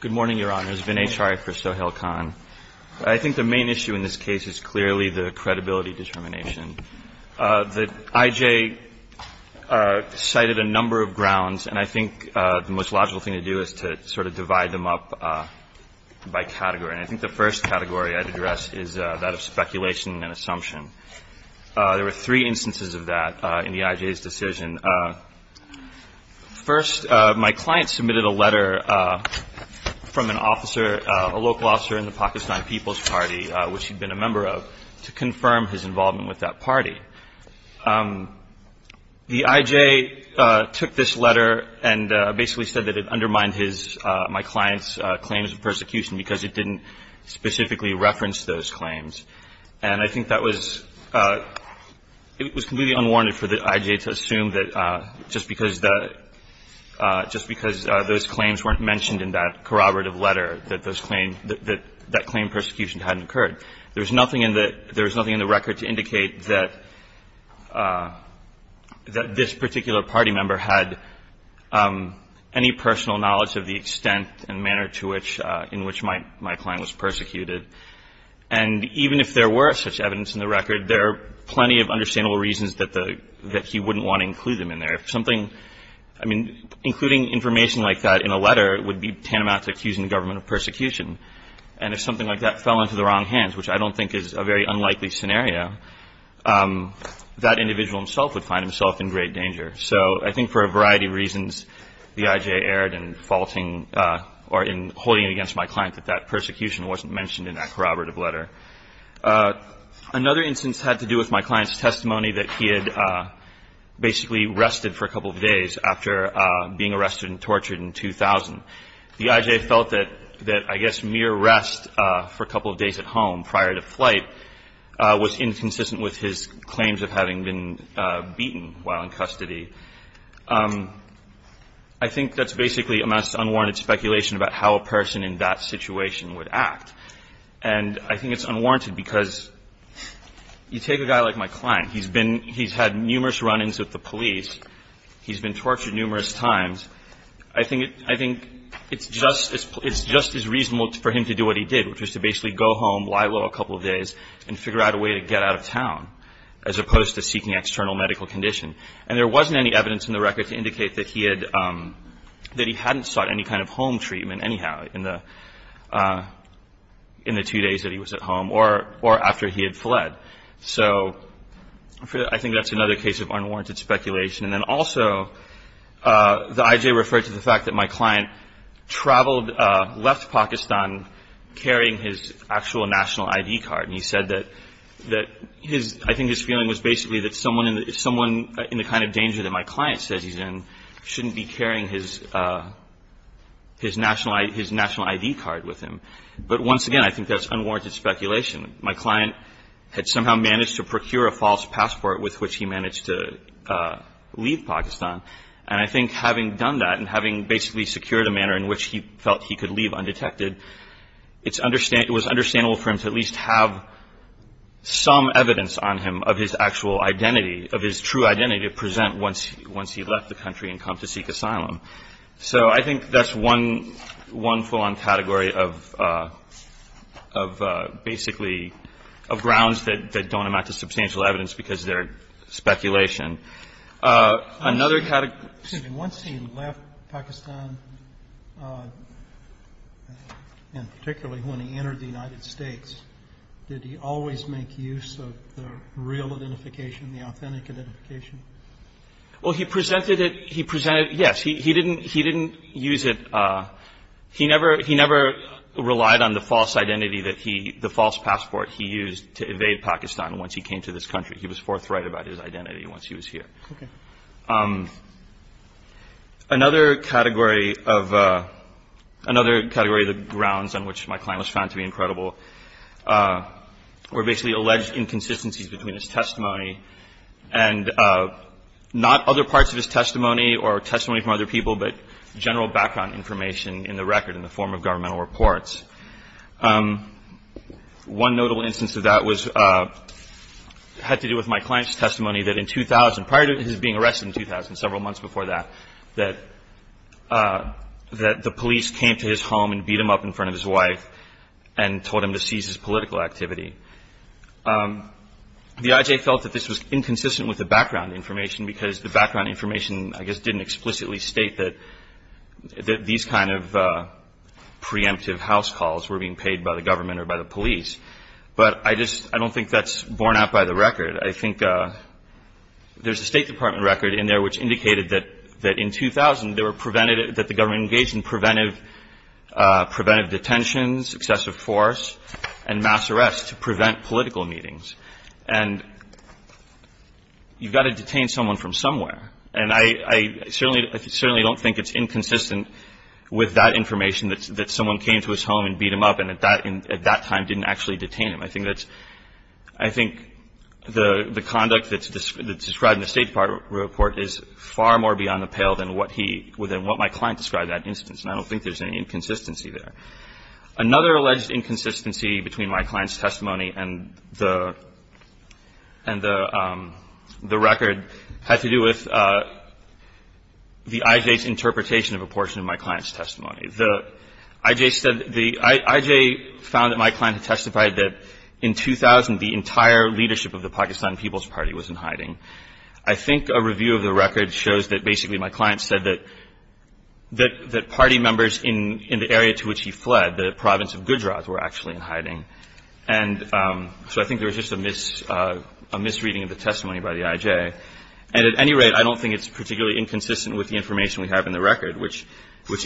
Good morning, Your Honors. Vinay Chari for Sohail Khan. I think the main issue in this case is clearly the credibility determination. The I.J. cited a number of grounds, and I think the most logical thing to do is to sort of divide them up by category. And I think the first category I'd address is that of speculation and assumption. There were three instances of that in the I.J.'s decision. First, my client submitted a letter from an officer, a local officer in the Pakistan People's Party, which he'd been a member of, to confirm his involvement with that party. The I.J. took this letter and basically said that it undermined my client's claims of persecution because it didn't specifically reference those claims. And I think that was completely unwarranted for the I.J. to assume that just because those claims weren't mentioned in that corroborative letter, that that claim of persecution hadn't occurred. There was nothing in the record to indicate that this particular party member had any personal knowledge of the extent and manner in which my client was persecuted. And even if there were such evidence in the record, there are plenty of understandable reasons that he wouldn't want to include them in there. If something, I mean, including information like that in a letter would be tantamount to accusing the government of persecution. And if something like that fell into the wrong hands, which I don't think is a very unlikely scenario, that individual himself would find himself in great danger. So I think for a variety of reasons, the I.J. erred in faulting or in holding it against my client that that persecution wasn't mentioned in that corroborative letter. Another instance had to do with my client's testimony that he had basically rested for a couple of days after being arrested and tortured in 2000. The I.J. felt that I guess mere rest for a couple of days at home prior to flight was inconsistent with his claims of having been beaten while in custody. I think that's basically amassed unwarranted speculation about how a person in that situation would act. And I think it's unwarranted because you take a guy like my client. He's been he's had numerous run-ins with the police. He's been tortured numerous times. I think it's just as reasonable for him to do what he did, which was to basically go home, lie low a couple of days, and figure out a way to get out of town, as opposed to seeking external medical condition. And there wasn't any evidence in the record to indicate that he hadn't sought any kind of home treatment anyhow in the two days that he was at home or after he had fled. So I think that's another case of unwarranted speculation. And then also the I.J. referred to the fact that my client traveled, left Pakistan, carrying his actual national I.D. card. And he said that I think his feeling was basically that someone in the kind of danger that my client says he's in shouldn't be carrying his national I.D. card with him. But once again, I think that's unwarranted speculation. My client had somehow managed to procure a false passport with which he managed to leave Pakistan. And I think having done that and having basically secured a manner in which he felt he could leave undetected, it was understandable for him to at least have some evidence on him of his actual identity, of his true identity to present once he left the country and come to seek asylum. So I think that's one full-on category of basically grounds that don't amount to substantial evidence because they're speculation. Another category. Excuse me. Once he left Pakistan, and particularly when he entered the United States, did he always make use of the real identification, the authentic identification? Well, he presented it. He presented it, yes. He didn't use it. He never relied on the false identity that he, the false passport he used to evade Pakistan once he came to this country. He was forthright about his identity once he was here. Okay. Another category of the grounds on which my client was found to be incredible were basically alleged inconsistencies between his testimony and not other parts of his testimony or testimony from other people, but general background information in the record in the form of governmental reports. One notable instance of that had to do with my client's testimony that in 2000, prior to his being arrested in 2000, several months before that, that the police came to his home and beat him up in front of his wife and told him to cease his political activity. The IJ felt that this was inconsistent with the background information because the background information, I guess, didn't explicitly state that these kind of preemptive house calls were being paid by the government or by the police. But I just don't think that's borne out by the record. I think there's a State Department record in there which indicated that in 2000, they were prevented, that the government engaged in preventive detentions, excessive force, and mass arrests to prevent political meetings. And you've got to detain someone from somewhere. And I certainly don't think it's inconsistent with that information, that someone came to his home and beat him up and at that time didn't actually detain him. I think that's – I think the conduct that's described in the State Department report is far more beyond the pale than what he – than what my client described in that instance. And I don't think there's any inconsistency there. Another alleged inconsistency between my client's testimony and the – and the record had to do with the IJ's interpretation of a portion of my client's testimony. The IJ said – the IJ found that my client testified that in 2000, the entire leadership of the Pakistan People's Party was in hiding. I think a review of the record shows that basically my client said that – that party members in the area to which he fled, the province of Gujarat, were actually in hiding. And so I think there was just a misreading of the testimony by the IJ. And at any rate, I don't think it's particularly inconsistent with the information we have in the record, which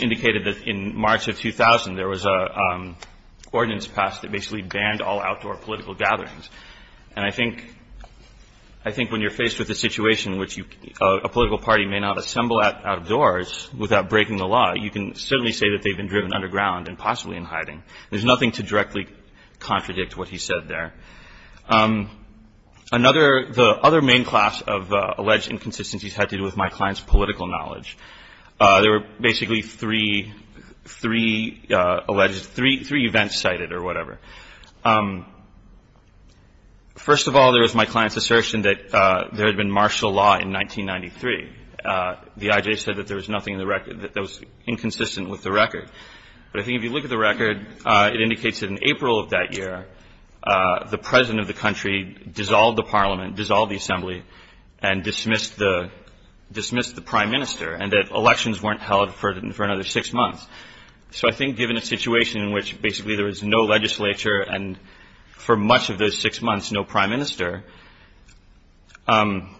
indicated that in March of 2000, there was an ordinance passed that basically banned all outdoor political gatherings. And I think – I think when you're faced with a situation which you – a political party may not assemble outdoors without breaking the law, you can certainly say that they've been driven underground and possibly in hiding. There's nothing to directly contradict what he said there. Another – the other main class of alleged inconsistencies had to do with my client's political knowledge. There were basically three – three alleged – three events cited or whatever. First of all, there was my client's assertion that there had been martial law in 1993. The IJ said that there was nothing in the record – that that was inconsistent with the record. But I think if you look at the record, it indicates that in April of that year, the president of the country dissolved the parliament, dissolved the assembly, and dismissed the – dismissed the prime minister, and that elections weren't held for another six months. So I think given a situation in which basically there was no legislature and for much of those six months no prime minister, the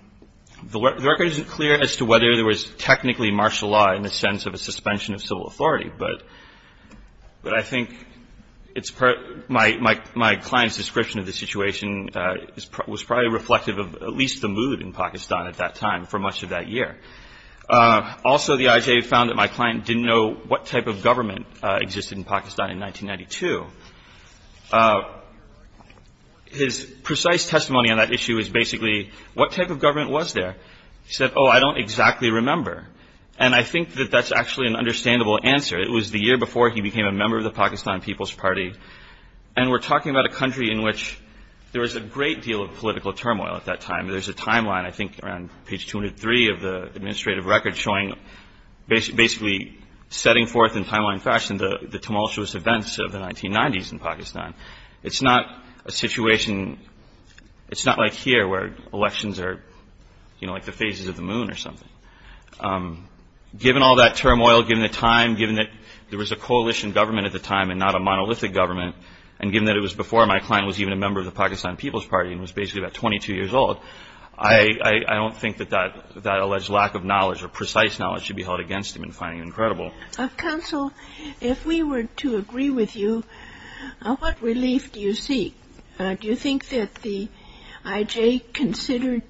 record isn't clear as to whether there was technically martial law in the sense of a suspension of civil authority. But – but I think it's – my – my client's description of the situation was probably reflective of at least the mood in Pakistan at that time for much of that year. Also, the IJ found that my client didn't know what type of government existed in Pakistan in 1992. His precise testimony on that issue is basically, what type of government was there? He said, oh, I don't exactly remember. And I think that that's actually an understandable answer. It was the year before he became a member of the Pakistan People's Party. And we're talking about a country in which there was a great deal of political turmoil at that time. There's a timeline, I think, around page 203 of the administrative record showing basically setting forth in timeline fashion the tumultuous events of the 1990s in Pakistan. It's not a situation – it's not like here where elections are, you know, like the phases of the moon or something. Given all that turmoil, given the time, given that there was a coalition government at the time and not a monolithic government, and given that it was before my client was even a member of the Pakistan People's Party and was basically about 22 years old, I don't think that that alleged lack of knowledge or precise knowledge should be held against him in finding him credible. Counsel, if we were to agree with you, what relief do you seek? Do you think that the I.J. considered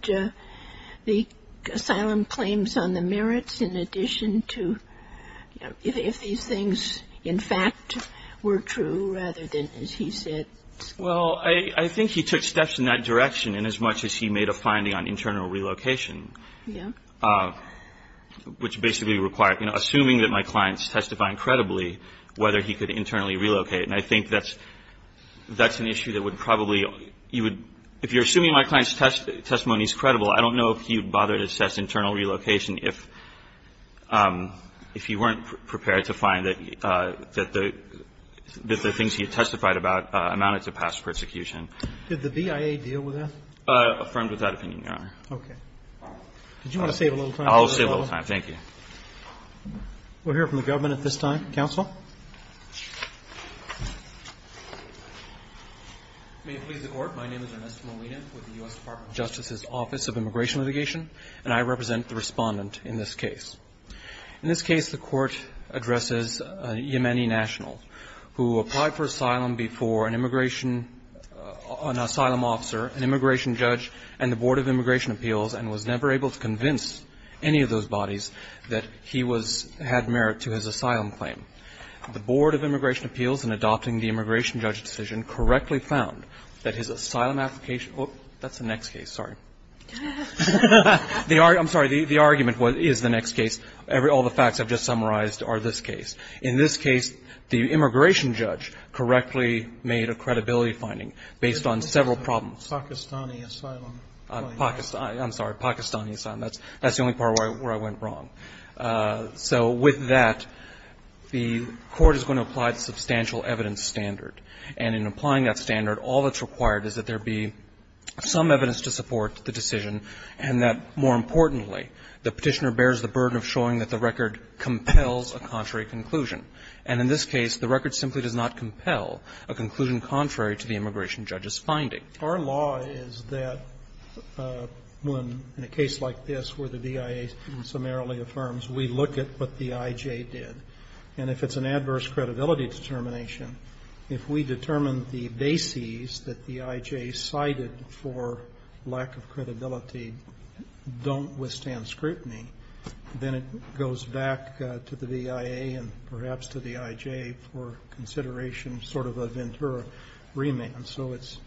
the asylum claims on the merits in addition to – if these things in fact were true rather than, as he said – Well, I think he took steps in that direction inasmuch as he made a finding on internal relocation, which basically required – you know, assuming that my client's testifying credibly, whether he could internally relocate. And I think that's an issue that would probably – if you're assuming my client's testimony is credible, I don't know if he would bother to assess internal relocation if he weren't prepared to find that the things he testified about amounted to past persecution. Did the BIA deal with that? Affirmed with that opinion, Your Honor. Okay. Did you want to save a little time? I'll save a little time. Thank you. We'll hear from the government at this time. Counsel. May it please the Court. My name is Ernesto Molina with the U.S. Department of Justice's Office of Immigration and Immigration Litigation, and I represent the Respondent in this case. In this case, the Court addresses Yemeni Nationals, who applied for asylum before an immigration – an asylum officer, an immigration judge, and the Board of Immigration Appeals, and was never able to convince any of those bodies that he was – had merit to his asylum claim. The Board of Immigration Appeals, in adopting the immigration judge decision, correctly found that his asylum application – that's the next case, sorry. I'm sorry. The argument is the next case. All the facts I've just summarized are this case. In this case, the immigration judge correctly made a credibility finding based on several problems. Pakistani asylum claim. I'm sorry. Pakistani asylum. That's the only part where I went wrong. So with that, the Court is going to apply the substantial evidence standard. And in applying that standard, all that's required is that there be some evidence to support the decision and that, more importantly, the Petitioner bears the burden of showing that the record compels a contrary conclusion. And in this case, the record simply does not compel a conclusion contrary to the immigration judge's finding. Our law is that when, in a case like this where the BIA summarily affirms, we look at what the IJ did. And if it's an adverse credibility determination, if we determine the bases that the IJ cited for lack of credibility don't withstand scrutiny, then it goes back to the BIA and perhaps to the IJ for consideration, sort of a Ventura remand. So it's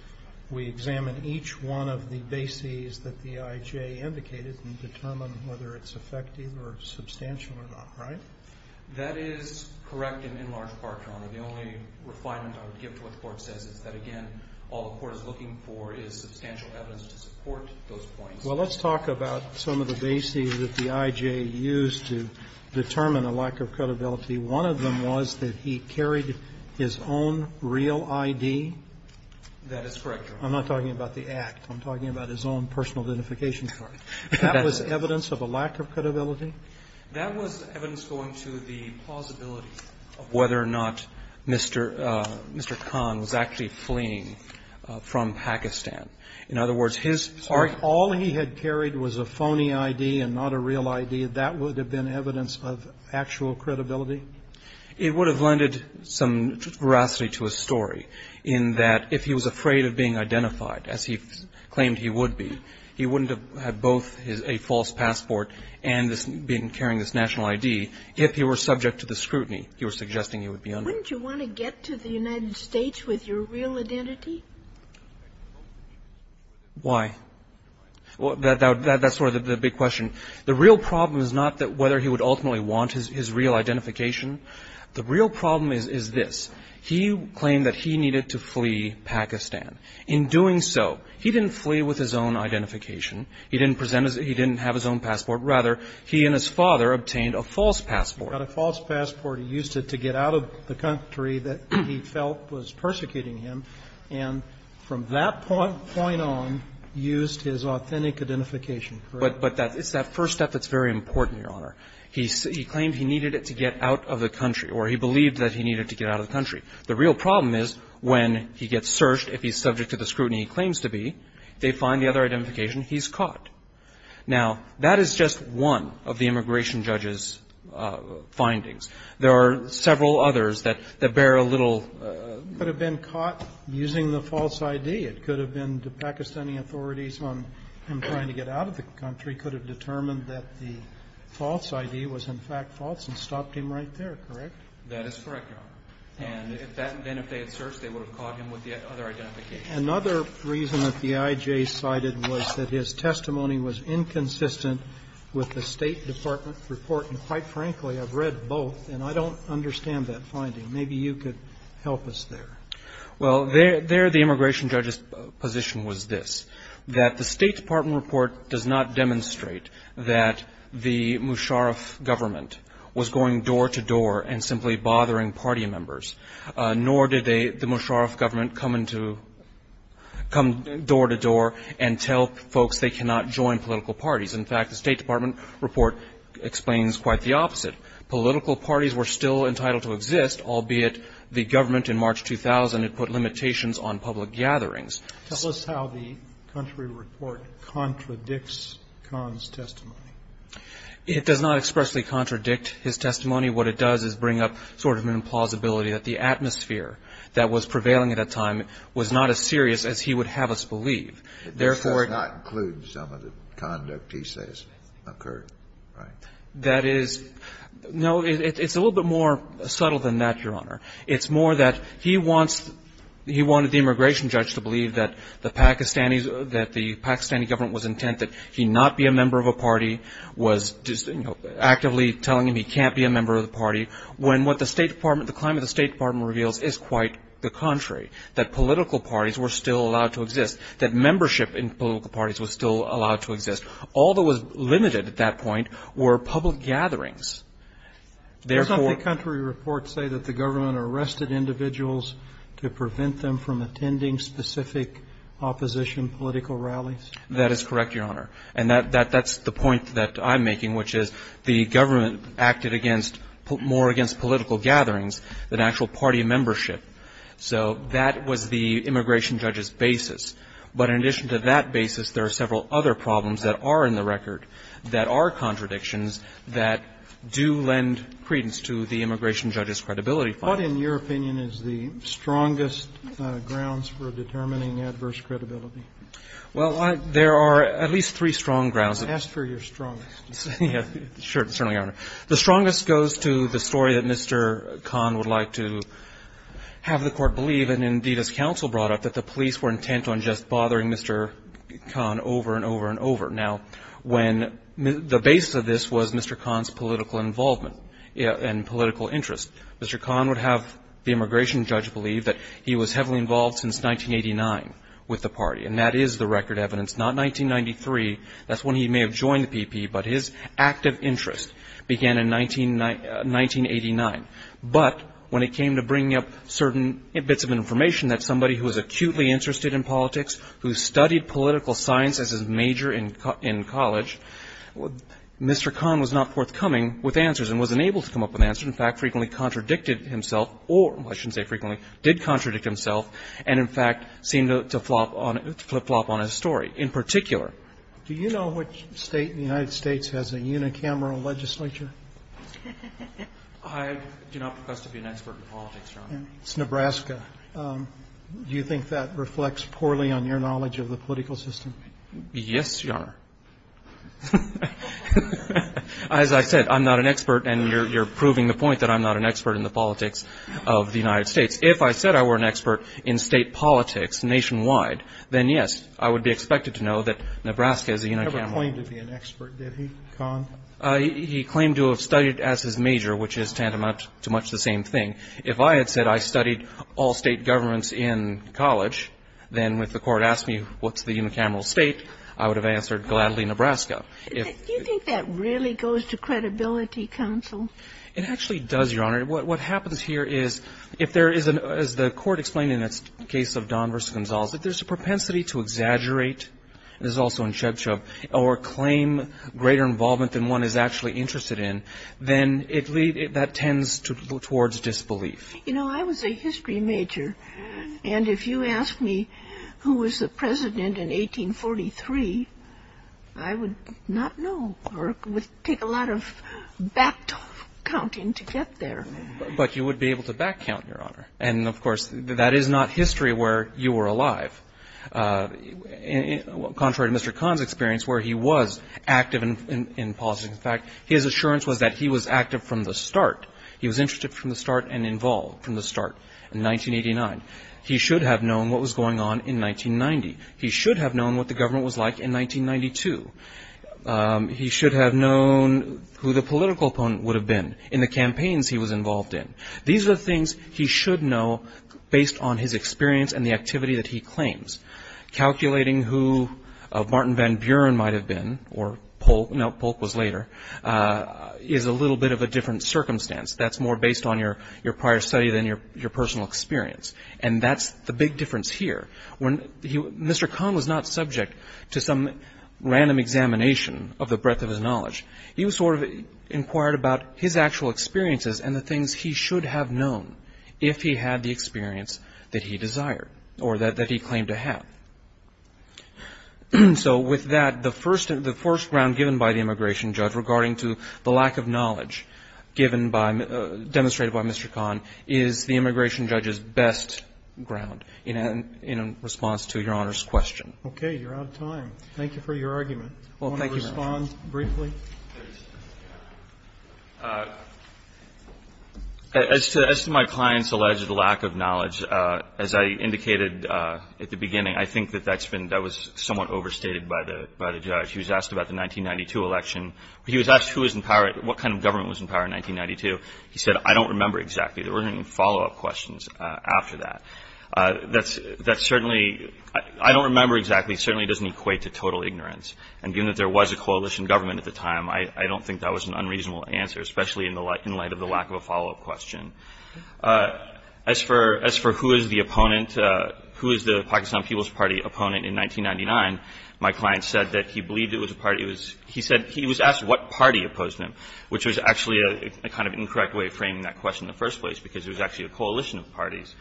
we examine each one of the bases that the IJ indicated and determine whether it's effective or substantial or not, right? That is correct in large part, Your Honor. The only refinement I would give to what the Court says is that, again, all the Court is looking for is substantial evidence to support those points. Well, let's talk about some of the bases that the IJ used to determine a lack of credibility. One of them was that he carried his own real ID. That is correct, Your Honor. I'm not talking about the act. I'm talking about his own personal identification card. That was evidence of a lack of credibility? That was evidence going to the plausibility of whether or not Mr. Kong was actually fleeing from Pakistan. In other words, his argument was that he was fleeing from Pakistan. So if all he had carried was a phony ID and not a real ID, that would have been evidence of actual credibility? It would have lended some veracity to his story in that if he was afraid of being identified, as he claimed he would be, he wouldn't have had both a false passport and been carrying this national ID if he were subject to the scrutiny he was suggesting he would be under. Wouldn't you want to get to the United States with your real identity? Why? That's sort of the big question. The real problem is not whether he would ultimately want his real identification. The real problem is this. He claimed that he needed to flee Pakistan. In doing so, he didn't flee with his own identification. He didn't present his own ID. He didn't have his own passport. Rather, he and his father obtained a false passport. He got a false passport. He used it to get out of the country that he felt was persecuting him. And from that point on, used his authentic identification. But that's that first step that's very important, Your Honor. He claimed he needed it to get out of the country, or he believed that he needed to get out of the country. The real problem is when he gets searched, if he's subject to the scrutiny he claims to be, they find the other identification, he's caught. Now, that is just one of the immigration judge's findings. There are several others that bear a little ---- Could have been caught using the false ID. It could have been the Pakistani authorities on him trying to get out of the country could have determined that the false ID was, in fact, false and stopped him right there, correct? That is correct, Your Honor. And then if they had searched, they would have caught him with the other identification. Another reason that the IJ cited was that his testimony was inconsistent with the State Department report. And quite frankly, I've read both, and I don't understand that finding. Maybe you could help us there. Well, there the immigration judge's position was this, that the State Department report does not demonstrate that the Musharraf government was going door to door and simply bothering party members. Nor did they, the Musharraf government, come into, come door to door and tell folks they cannot join political parties. In fact, the State Department report explains quite the opposite. Political parties were still entitled to exist, albeit the government in March 2000 had put limitations on public gatherings. Tell us how the country report contradicts Khan's testimony. It does not expressly contradict his testimony. What it does is bring up sort of an implausibility that the atmosphere that was prevailing at that time was not as serious as he would have us believe. Therefore, it does not include some of the conduct he says occurred, right? That is, no, it's a little bit more subtle than that, Your Honor. It's more that he wants, he wanted the immigration judge to believe that the Pakistanis, that the Pakistani government was intent that he not be a member of a party, was just, you know, actively telling him he can't be a member of the party, when what the State Department, the climate the State Department reveals is quite the contrary, that political parties were still allowed to exist, that membership in political parties was still allowed to exist. All that was limited at that point were public gatherings. Therefore. Doesn't the country report say that the government arrested individuals to prevent them from attending specific opposition political rallies? That is correct, Your Honor. And that's the point that I'm making, which is the government acted against, more against political gatherings than actual party membership. So that was the immigration judge's basis. But in addition to that basis, there are several other problems that are in the record that are contradictions that do lend credence to the immigration judge's credibility file. What, in your opinion, is the strongest grounds for determining adverse credibility? Well, there are at least three strong grounds. I asked for your strongest. Sure. Certainly, Your Honor. The strongest goes to the story that Mr. Kahn would like to have the Court believe, and indeed, as counsel brought up, that the police were intent on just bothering Mr. Kahn over and over and over. Now, when the base of this was Mr. Kahn's political involvement and political interest, Mr. Kahn would have the immigration judge believe that he was heavily involved since 1989 with the party, and that is the record evidence, not 1993. That's when he may have joined the PP, but his active interest began in 1989. But when it came to bringing up certain bits of information that somebody who was acutely interested in politics, who studied political science as his major in college, Mr. Kahn was not forthcoming with answers and wasn't able to come up with answers, which, in fact, frequently contradicted himself or, I shouldn't say frequently, did contradict himself and, in fact, seemed to flip-flop on his story, in particular. Do you know which state in the United States has a unicameral legislature? I do not profess to be an expert in politics, Your Honor. It's Nebraska. Do you think that reflects poorly on your knowledge of the political system? Yes, Your Honor. As I said, I'm not an expert, and you're proving the point that I'm not an expert in the politics of the United States. If I said I were an expert in state politics nationwide, then, yes, I would be expected to know that Nebraska is a unicameral. He never claimed to be an expert, did he, Kahn? He claimed to have studied as his major, which is tantamount to much the same thing. If I had said I studied all state governments in college, then, if the court asked me what's the unicameral state, I would have answered gladly Nebraska. Do you think that really goes to credibility, counsel? It actually does, Your Honor. What happens here is if there is, as the court explained in the case of Don v. Gonzales, if there's a propensity to exaggerate, this is also in Chub Chub, or claim greater involvement than one is actually interested in, then that tends towards disbelief. You know, I was a history major. And if you asked me who was the president in 1843, I would not know or it would take a lot of back counting to get there. But you would be able to back count, Your Honor. And, of course, that is not history where you were alive. Contrary to Mr. Kahn's experience, where he was active in politics, in fact, his assurance was that he was active from the start. He was interested from the start and involved from the start in 1989. He should have known what was going on in 1990. He should have known what the government was like in 1992. He should have known who the political opponent would have been in the campaigns he was involved in. These are the things he should know based on his experience and the activity that he claims. Calculating who Martin Van Buren might have been or Polk, no, Polk was later, is a little bit of a different circumstance. That's more based on your prior study than your personal experience. And that's the big difference here. Mr. Kahn was not subject to some random examination of the breadth of his knowledge. He was sort of inquired about his actual experiences and the things he should have known if he had the experience that he desired or that he claimed to have. So with that, the first ground given by the immigration judge regarding to the lack of knowledge given by demonstrated by Mr. Kahn is the immigration judge's best ground in response to Your Honor's question. Okay. You're out of time. Thank you for your argument. Thank you, Your Honor. Do you want to respond briefly? As to my client's alleged lack of knowledge, as I indicated at the beginning, I think that that was somewhat overstated by the judge. He was asked about the 1992 election. He was asked what kind of government was in power in 1992. He said, I don't remember exactly. There weren't any follow-up questions after that. That certainly, I don't remember exactly, certainly doesn't equate to total ignorance. And given that there was a coalition government at the time, I don't think that was an unreasonable answer, especially in light of the lack of a follow-up question. As for who is the opponent, who is the Pakistan People's Party opponent in 1999, my client said that he believed it was a party. He said he was asked what party opposed him, which was actually a kind of incorrect way of framing that question in the first place because it was actually a coalition of parties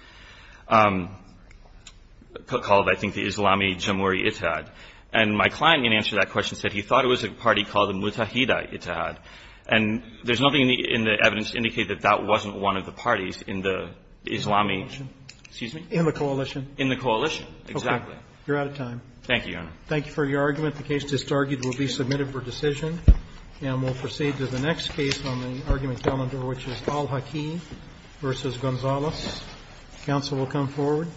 called, I think, the Islami Jamuri Ijtihad. And my client, in answer to that question, said he thought it was a party called the Mutahida Ijtihad. And there's nothing in the evidence to indicate that that wasn't one of the parties in the Islami – excuse me? In the coalition. In the coalition, exactly. Okay. You're out of time. Thank you, Your Honor. Thank you for your argument. The case just argued will be submitted for decision. And we'll proceed to the next case on the argument calendar, which is Al-Hakim v. Gonzales. Counsel will come forward.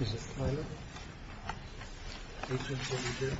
Is this Tyler? 1872, right? 1872.